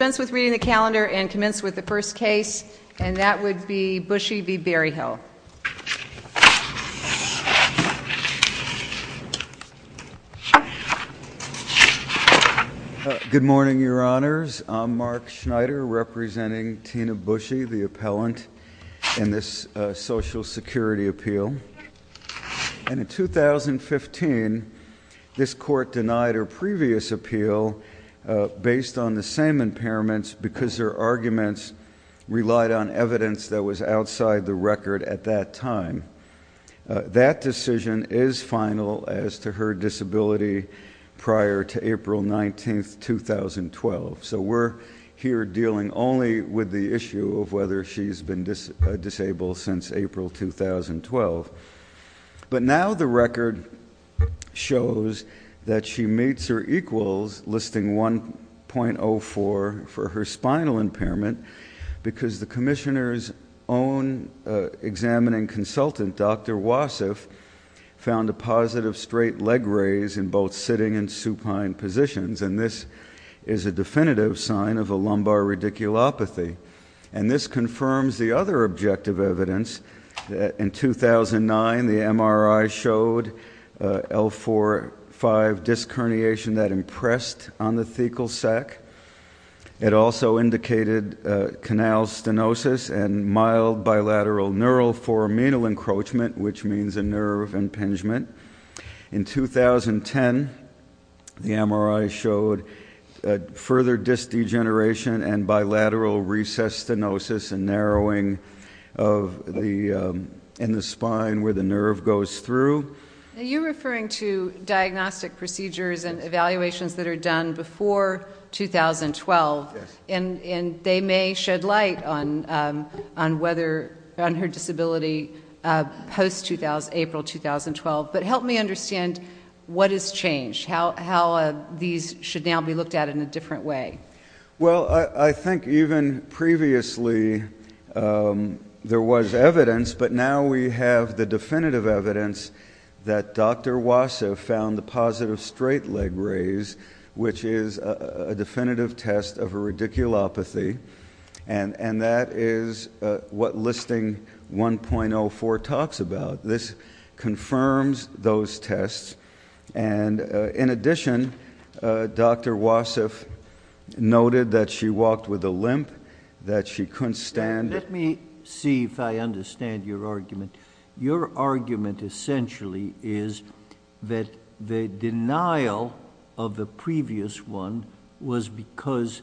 Commence with reading the calendar and commence with the first case, and that would be Bushey v. Berryhill. Good morning, Your Honors. I'm Mark Schneider, representing Tina Bushey, the appellant, in this Social Security appeal. And in 2015, this Court denied her previous appeal based on the same impairments because her arguments relied on evidence that was outside the record at that time. That decision is final as to her disability prior to April 19, 2012. So we're here dealing only with the issue of whether she's been disabled since April 2012. But now the record shows that she meets her equals, listing 1.04 for her spinal impairment, because the Commissioner's own examining consultant, Dr. Wasif, found a positive straight leg raise in both sitting and supine positions. And this is a definitive sign of a lumbar radiculopathy. And this confirms the other objective evidence. In 2009, the MRI showed L4-5 disc herniation that impressed on the thecal sac. It also indicated canal stenosis and mild bilateral neural foramenal encroachment, which means a nerve impingement. In 2010, the MRI showed further disc degeneration and bilateral recess stenosis and narrowing in the spine where the nerve goes through. Are you referring to diagnostic procedures and evaluations that are done before 2012? Yes. And they may shed light on her disability post-April 2012. But help me understand what has changed, how these should now be looked at in a different way. Well, I think even previously there was evidence, but now we have the definitive evidence that Dr. Wasif found the positive straight leg raise, which is a definitive test of a radiculopathy, and that is what listing 1.04 talks about. This confirms those tests. And in addition, Dr. Wasif noted that she walked with a limp, that she couldn't stand. Let me see if I understand your argument. Your argument essentially is that the denial of the previous one was because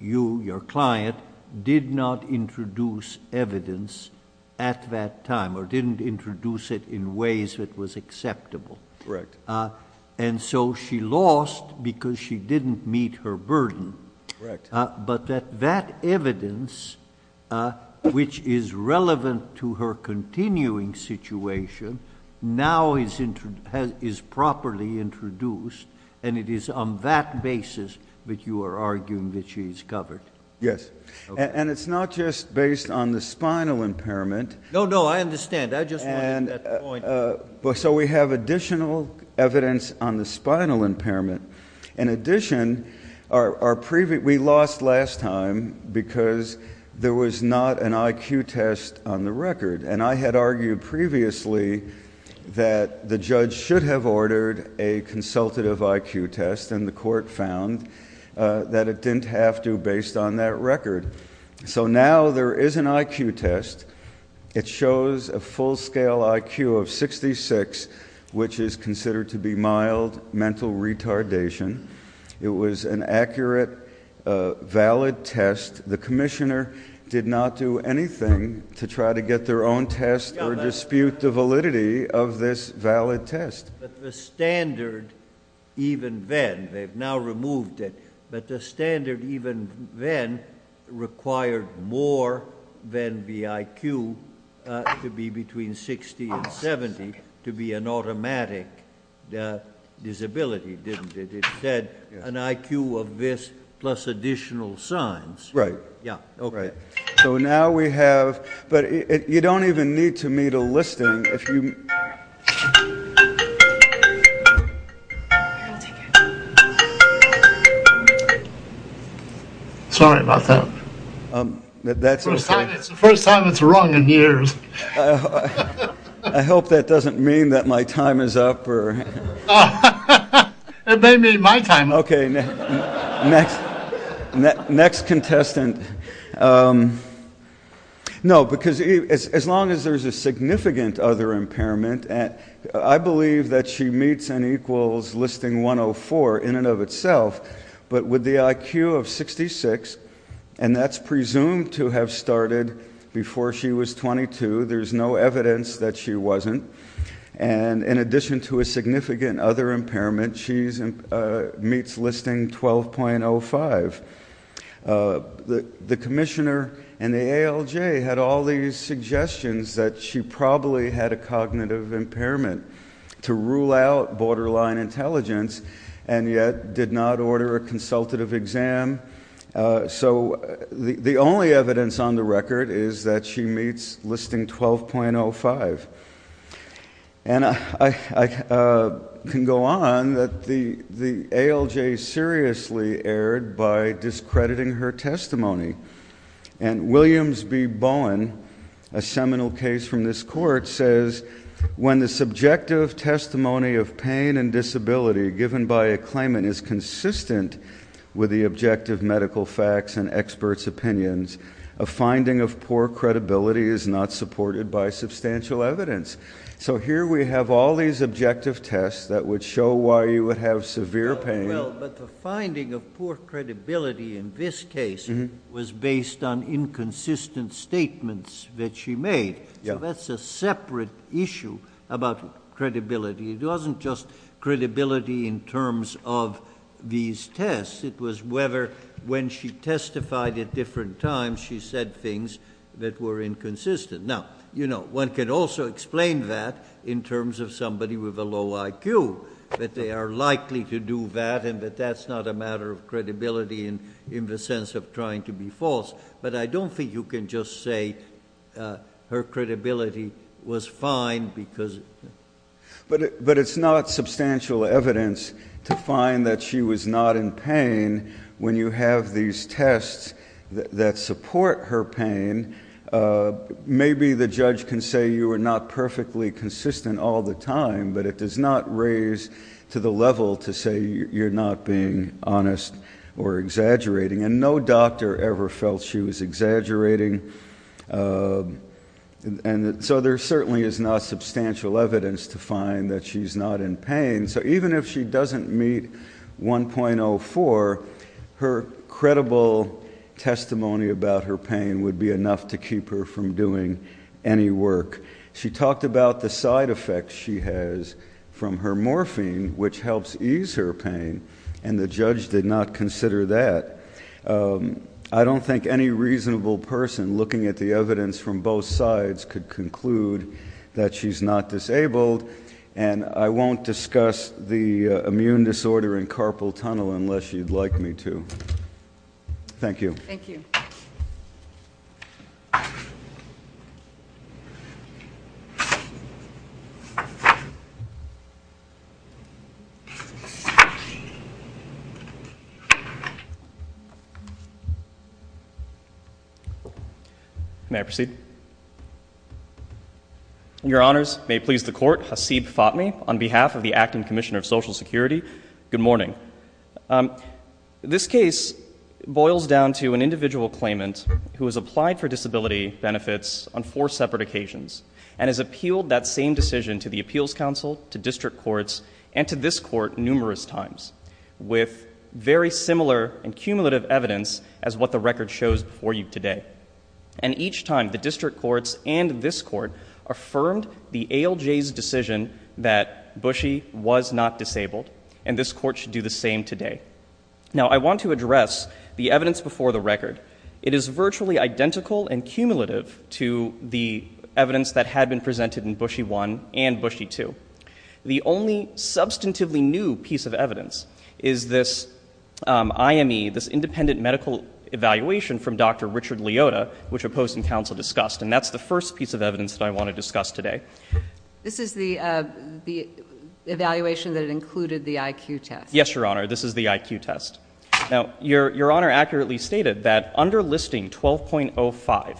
you, your client, did not introduce evidence at that time or didn't introduce it in ways that was acceptable. Correct. And so she lost because she didn't meet her burden. Correct. But that that evidence, which is relevant to her continuing situation, now is properly introduced, and it is on that basis that you are arguing that she is covered. Yes. And it's not just based on the spinal impairment. No, no, I understand. I just wanted that point. So we have additional evidence on the spinal impairment. In addition, we lost last time because there was not an IQ test on the record, and I had argued previously that the judge should have ordered a consultative IQ test, and the court found that it didn't have to based on that record. So now there is an IQ test. It shows a full-scale IQ of 66, which is considered to be mild mental retardation. It was an accurate, valid test. The commissioner did not do anything to try to get their own test or dispute the validity of this valid test. But the standard, even then, they've now removed it, but the standard even then required more than the IQ to be between 60 and 70 to be an automatic disability, didn't it? It said an IQ of this plus additional signs. Right. Yeah, okay. So now we have, but you don't even need to meet a listing. Sorry about that. That's okay. It's the first time it's rung in years. I hope that doesn't mean that my time is up. It may mean my time is up. Okay, next contestant. No, because as long as there's a significant other impairment, I believe that she meets and equals listing 104 in and of itself, but with the IQ of 66, and that's presumed to have started before she was 22. There's no evidence that she wasn't. And in addition to a significant other impairment, she meets listing 12.05. The commissioner and the ALJ had all these suggestions that she probably had a cognitive impairment to rule out borderline intelligence and yet did not order a consultative exam. So the only evidence on the record is that she meets listing 12.05. And I can go on that the ALJ seriously erred by discrediting her testimony. And Williams B. Bowen, a seminal case from this court, says, when the subjective testimony of pain and disability given by a claimant is consistent with the objective medical facts and experts' opinions, a finding of poor credibility is not supported by substantial evidence. So here we have all these objective tests that would show why you would have severe pain. Well, but the finding of poor credibility in this case was based on inconsistent statements that she made. So that's a separate issue about credibility. It wasn't just credibility in terms of these tests. It was whether when she testified at different times she said things that were inconsistent. Now, you know, one can also explain that in terms of somebody with a low IQ, that they are likely to do that and that that's not a matter of credibility in the sense of trying to be false. But I don't think you can just say her credibility was fine because. But it's not substantial evidence to find that she was not in pain when you have these tests that support her pain. Maybe the judge can say you are not perfectly consistent all the time, but it does not raise to the level to say you're not being honest or exaggerating. And no doctor ever felt she was exaggerating. And so there certainly is not substantial evidence to find that she's not in pain. So even if she doesn't meet 1.04, her credible testimony about her pain would be enough to keep her from doing any work. She talked about the side effects she has from her morphine, which helps ease her pain. And the judge did not consider that. I don't think any reasonable person looking at the evidence from both sides could conclude that she's not disabled. And I won't discuss the immune disorder in carpal tunnel unless you'd like me to. Thank you. Thank you. May I proceed? Your honors, may it please the court, Hasib Fatmi on behalf of the Acting Commissioner of Social Security. Good morning. This case boils down to an individual claimant who has applied for disability benefits on four separate occasions and has appealed that same decision to the appeals council, to district courts, and to this court numerous times with very similar and cumulative evidence as what the record shows before you today. And each time, the district courts and this court affirmed the ALJ's decision that Bushy was not disabled. And this court should do the same today. Now, I want to address the evidence before the record. It is virtually identical and cumulative to the evidence that had been presented in Bushy 1 and Bushy 2. The only substantively new piece of evidence is this IME, this independent medical evaluation from Dr. Richard Liotta, which a post in council discussed. And that's the first piece of evidence that I want to discuss today. This is the evaluation that included the IQ test? Yes, your honor. This is the IQ test. Now, your honor accurately stated that under listing 12.05,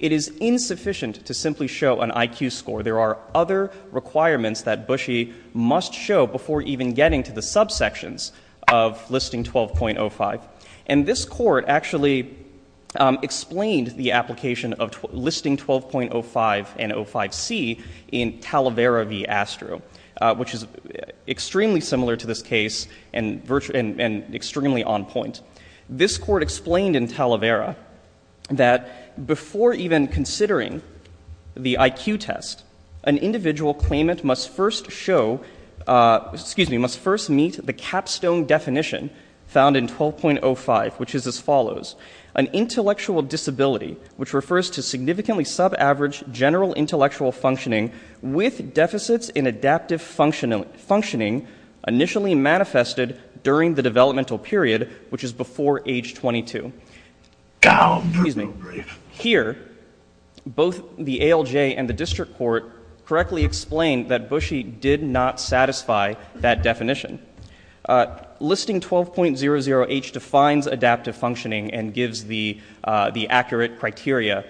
it is insufficient to simply show an IQ score. There are other requirements that Bushy must show before even getting to the subsections of listing 12.05. And this court actually explained the application of listing 12.05 and 05C in Talavera v. Astro, which is extremely similar to this case and extremely on point. This court explained in Talavera that before even considering the IQ test, an individual claimant must first meet the capstone definition found in 12.05, which is as follows. An intellectual disability, which refers to significantly sub-average general intellectual functioning with deficits in adaptive functioning initially manifested during the developmental period, which is before age 22. Here, both the ALJ and the district court correctly explained that Bushy did not satisfy that definition. Listing 12.00H defines adaptive functioning and gives the accurate criteria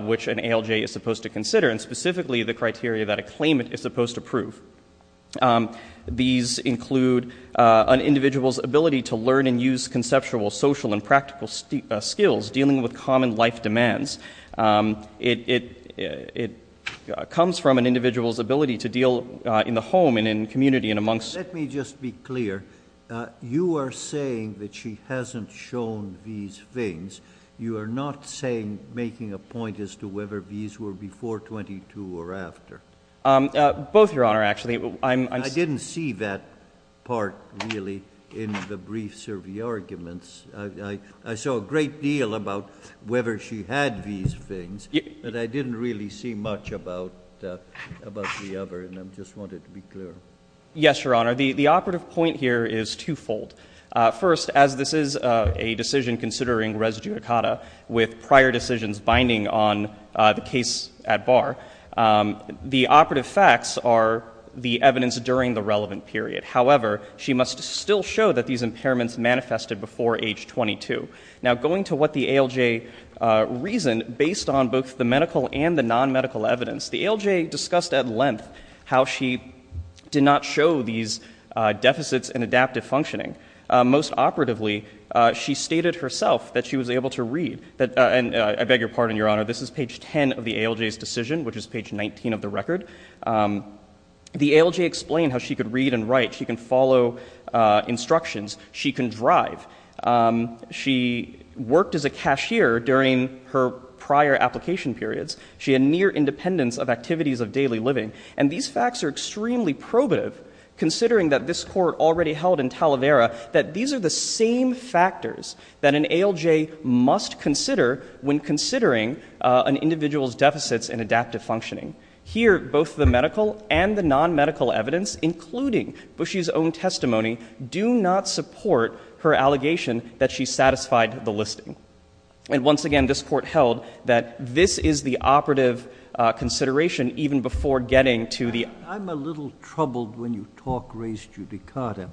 which an ALJ is supposed to consider, and specifically the criteria that a claimant is supposed to prove. These include an individual's ability to learn and use conceptual, social, and practical skills dealing with common life demands. It comes from an individual's ability to deal in the home and in community and amongst Let me just be clear. You are saying that she hasn't shown these things. You are not making a point as to whether these were before 22 or after. Both, Your Honor, actually. I didn't see that part, really, in the brief survey arguments. I saw a great deal about whether she had these things, but I didn't really see much about the other, and I just wanted to be clear. Yes, Your Honor. The operative point here is twofold. First, as this is a decision considering res judicata with prior decisions binding on the case at bar, the operative facts are the evidence during the relevant period. However, she must still show that these impairments manifested before age 22. Now, going to what the ALJ reasoned based on both the medical and the non-medical evidence, the ALJ discussed at length how she did not show these deficits in adaptive functioning. Most operatively, she stated herself that she was able to read, and I beg your pardon, Your Honor, this is page 10 of the ALJ's decision, which is page 19 of the record. The ALJ explained how she could read and write. She can follow instructions. She can drive. She worked as a cashier during her prior application periods. She had near independence of activities of daily living. And these facts are extremely probative, considering that this Court already held in Talavera that these are the same factors that an ALJ must consider when considering an individual's deficits in adaptive functioning. Here, both the medical and the non-medical evidence, including Bushy's own testimony, do not support her allegation that she satisfied the listing. And once again, this Court held that this is the operative consideration even before getting to the... I'm a little troubled when you talk race judicata,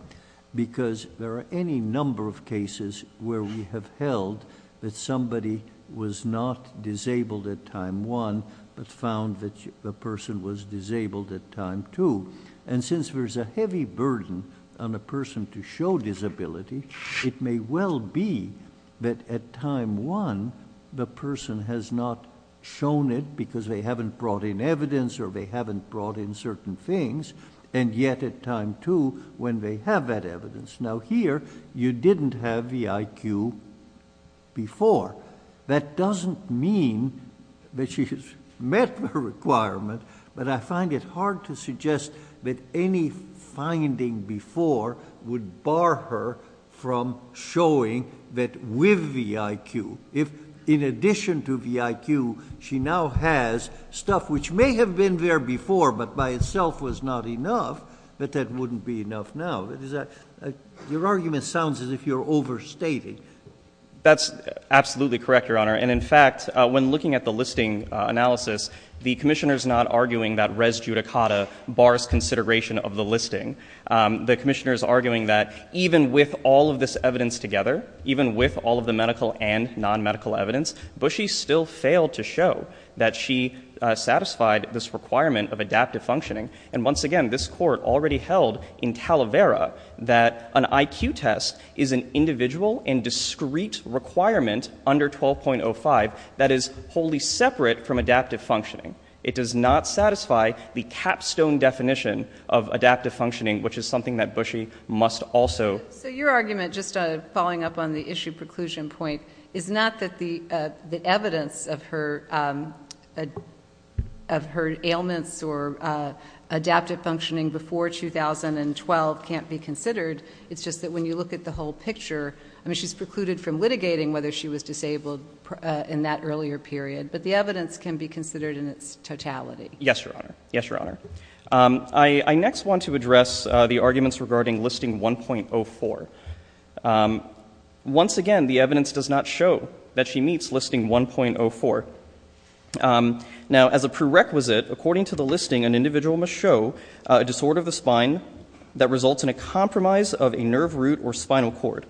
because there are any number of cases where we have held that somebody was not disabled at time 1 but found that the person was disabled at time 2. And since there's a heavy burden on a person to show disability, it may well be that at time 1, the person has not shown it because they haven't brought in evidence or they haven't brought in certain things, and yet at time 2, when they have that evidence. Now here, you didn't have the IQ before. That doesn't mean that she has met the requirement, but I find it hard to suggest that any finding before would bar her from showing that with the IQ. If, in addition to the IQ, she now has stuff which may have been there before but by itself was not enough, that that wouldn't be enough now. Your argument sounds as if you're overstating. That's absolutely correct, Your Honor. And in fact, when looking at the listing analysis, the Commissioner's not arguing that race judicata bars consideration of the listing. The Commissioner's arguing that even with all of this evidence together, even with all of the medical and non-medical evidence, Bushy still failed to show that she satisfied this requirement of adaptive functioning. And once again, this Court already held in Talavera that an IQ test is an individual and discrete requirement under 12.05 that is wholly separate from adaptive functioning. It does not satisfy the capstone definition of adaptive functioning, which is something that Bushy must also... So your argument, just following up on the issue preclusion point, is not that the evidence of her ailments or adaptive functioning before 2012 can't be considered. It's just that when you look at the whole picture, I mean, she's precluded from litigating whether she was disabled in that earlier period, but the evidence can be considered in its totality. Yes, Your Honor. Yes, Your Honor. I next want to address the arguments regarding listing 1.04. Once again, the evidence does not show that she meets listing 1.04. Now, as a prerequisite, according to the listing, an individual must show a disorder of the spine that results in a compromise of a nerve root or spinal cord.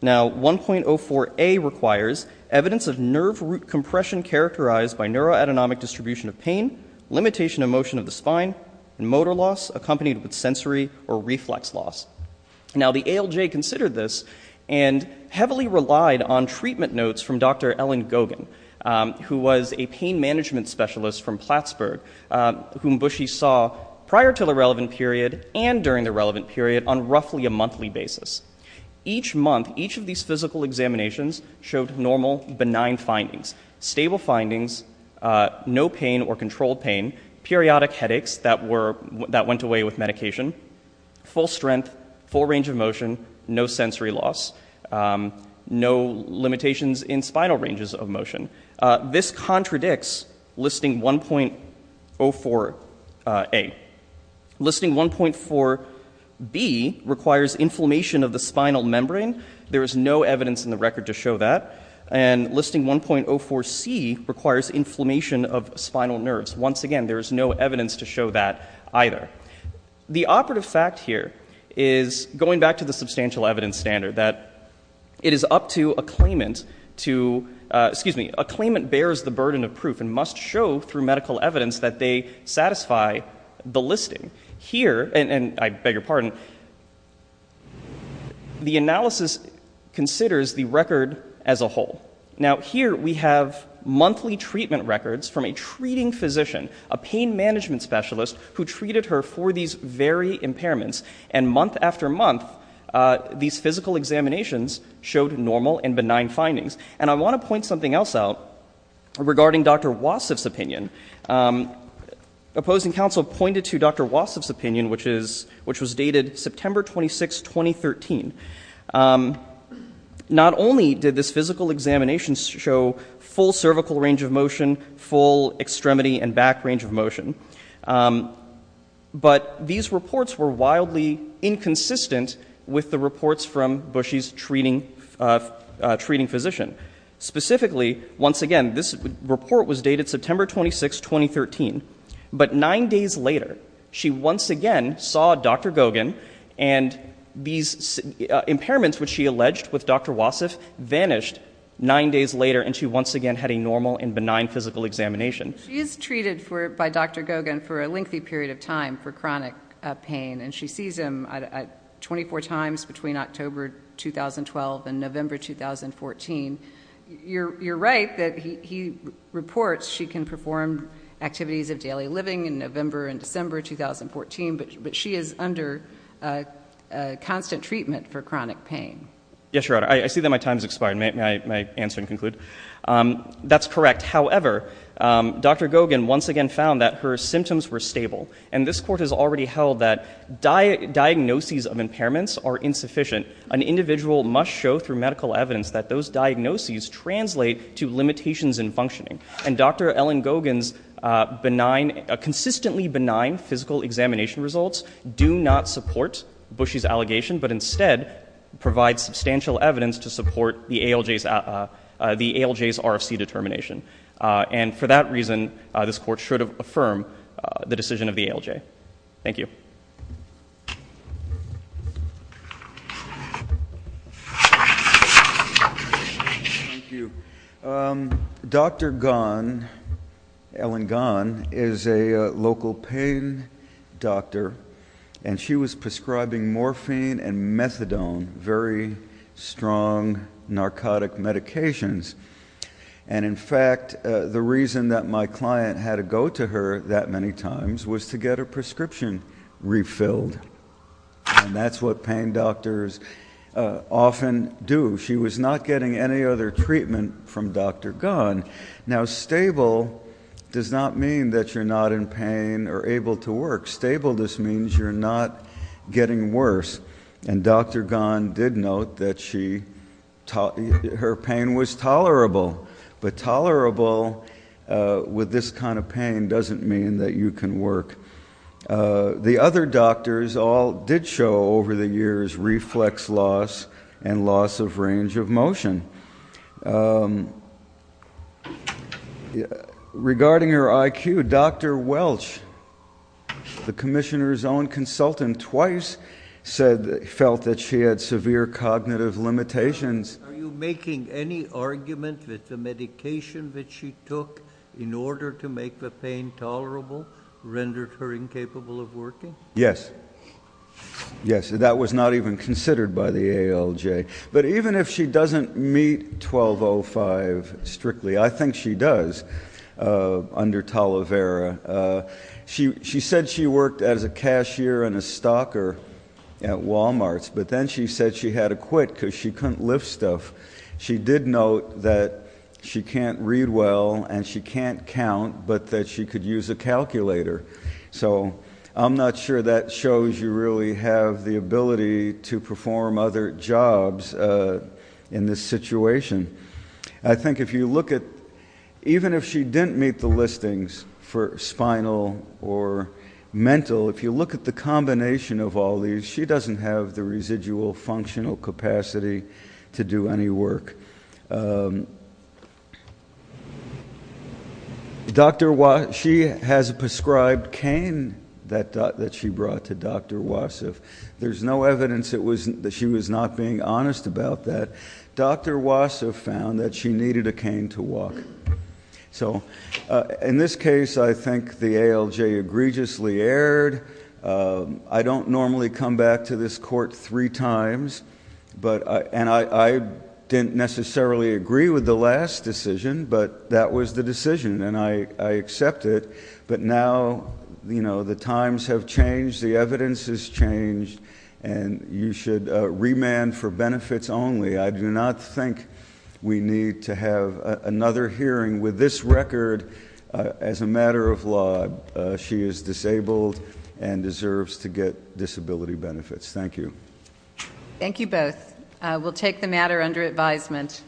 Now, 1.04a requires evidence of nerve root compression characterized by neuro-autonomic distribution of pain, limitation of motion of the spine, and motor loss accompanied with sensory or reflex loss. Now, the ALJ considered this and heavily relied on treatment notes from Dr. Ellen Gogan, who was a pain management specialist from Plattsburgh, whom Bushy saw prior to the relevant period and during the relevant period on roughly a monthly basis. Each month, each of these physical examinations showed normal, benign findings. Stable findings, no pain or controlled pain, periodic headaches that went away with medication, full strength, full range of motion, no sensory loss, no limitations in spinal ranges of motion. This contradicts listing 1.04a. Listing 1.4b requires inflammation of the spinal membrane. There is no evidence in the record to show that. And listing 1.04c requires inflammation of spinal nerves. Once again, there is no evidence to show that either. The operative fact here is, going back to the substantial evidence standard, that it is up to a claimant to... Excuse me. A claimant bears the burden of proof and must show through medical evidence that they satisfy the listing. Here, and I beg your pardon, the analysis considers the record as a whole. Now, here we have monthly treatment records from a treating physician, a pain management specialist, who treated her for these very impairments. And month after month, these physical examinations showed normal and benign findings. And I want to point something else out regarding Dr. Wasif's opinion. Opposing counsel pointed to Dr. Wasif's opinion, which was dated September 26, 2013. Not only did this physical examination show full cervical range of motion, full extremity and back range of motion, but these reports were wildly inconsistent with the reports from Bushy's treating physician. Specifically, once again, this report was dated September 26, 2013. But nine days later, she once again saw Dr. Gogan, and these impairments which she alleged with Dr. Wasif vanished nine days later, and she once again had a normal and benign physical examination. She is treated by Dr. Gogan for a lengthy period of time for chronic pain, and she sees him 24 times between October 2012 and November 2014. You're right that he reports she can perform activities of daily living in November and December 2014, but she is under constant treatment for chronic pain. Yes, Your Honor. I see that my time has expired. May I answer and conclude? That's correct. However, Dr. Gogan once again found that her symptoms were stable, and this Court has already held that diagnoses of impairments are insufficient. An individual must show through medical evidence that those diagnoses translate to limitations in functioning, and Dr. Ellen Gogan's consistently benign physical examination results do not support Bushy's allegation, but instead provide substantial evidence to support the ALJ's RFC determination. And for that reason, this Court should affirm the decision of the ALJ. Thank you. Thank you. Dr. Gogan, Ellen Gogan, is a local pain doctor, and she was prescribing morphine and methadone, very strong narcotic medications. And in fact, the reason that my client had to go to her that many times was to get her prescription refilled, and that's what pain doctors often do. She was not getting any other treatment from Dr. Gogan. Now, stable does not mean that you're not in pain or able to work. Stable just means you're not getting worse, and Dr. Gogan did note that her pain was tolerable, but tolerable with this kind of pain doesn't mean that you can work. The other doctors all did show over the years reflex loss and loss of range of motion. Regarding her IQ, Dr. Welch, the commissioner's own consultant, Dr. Gogan twice felt that she had severe cognitive limitations. Are you making any argument that the medication that she took in order to make the pain tolerable rendered her incapable of working? Yes. Yes, that was not even considered by the ALJ. But even if she doesn't meet 1205 strictly, I think she does under Talavera, she said she worked as a cashier and a stocker at Walmart, but then she said she had to quit because she couldn't lift stuff. She did note that she can't read well and she can't count, but that she could use a calculator. So I'm not sure that shows you really have the ability to perform other jobs in this situation. I think if you look at, even if she didn't meet the listings for spinal or mental, if you look at the combination of all these, she doesn't have the residual functional capacity to do any work. She has a prescribed cane that she brought to Dr. Wasif. There's no evidence that she was not being honest about that. Dr. Wasif found that she needed a cane to walk. In this case, I think the ALJ egregiously erred. I don't normally come back to this court three times, and I didn't necessarily agree with the last decision, but that was the decision, and I accept it. And you should remand for benefits only. I do not think we need to have another hearing with this record as a matter of law. She is disabled and deserves to get disability benefits. Thank you. Thank you both. We'll take the matter under advisement.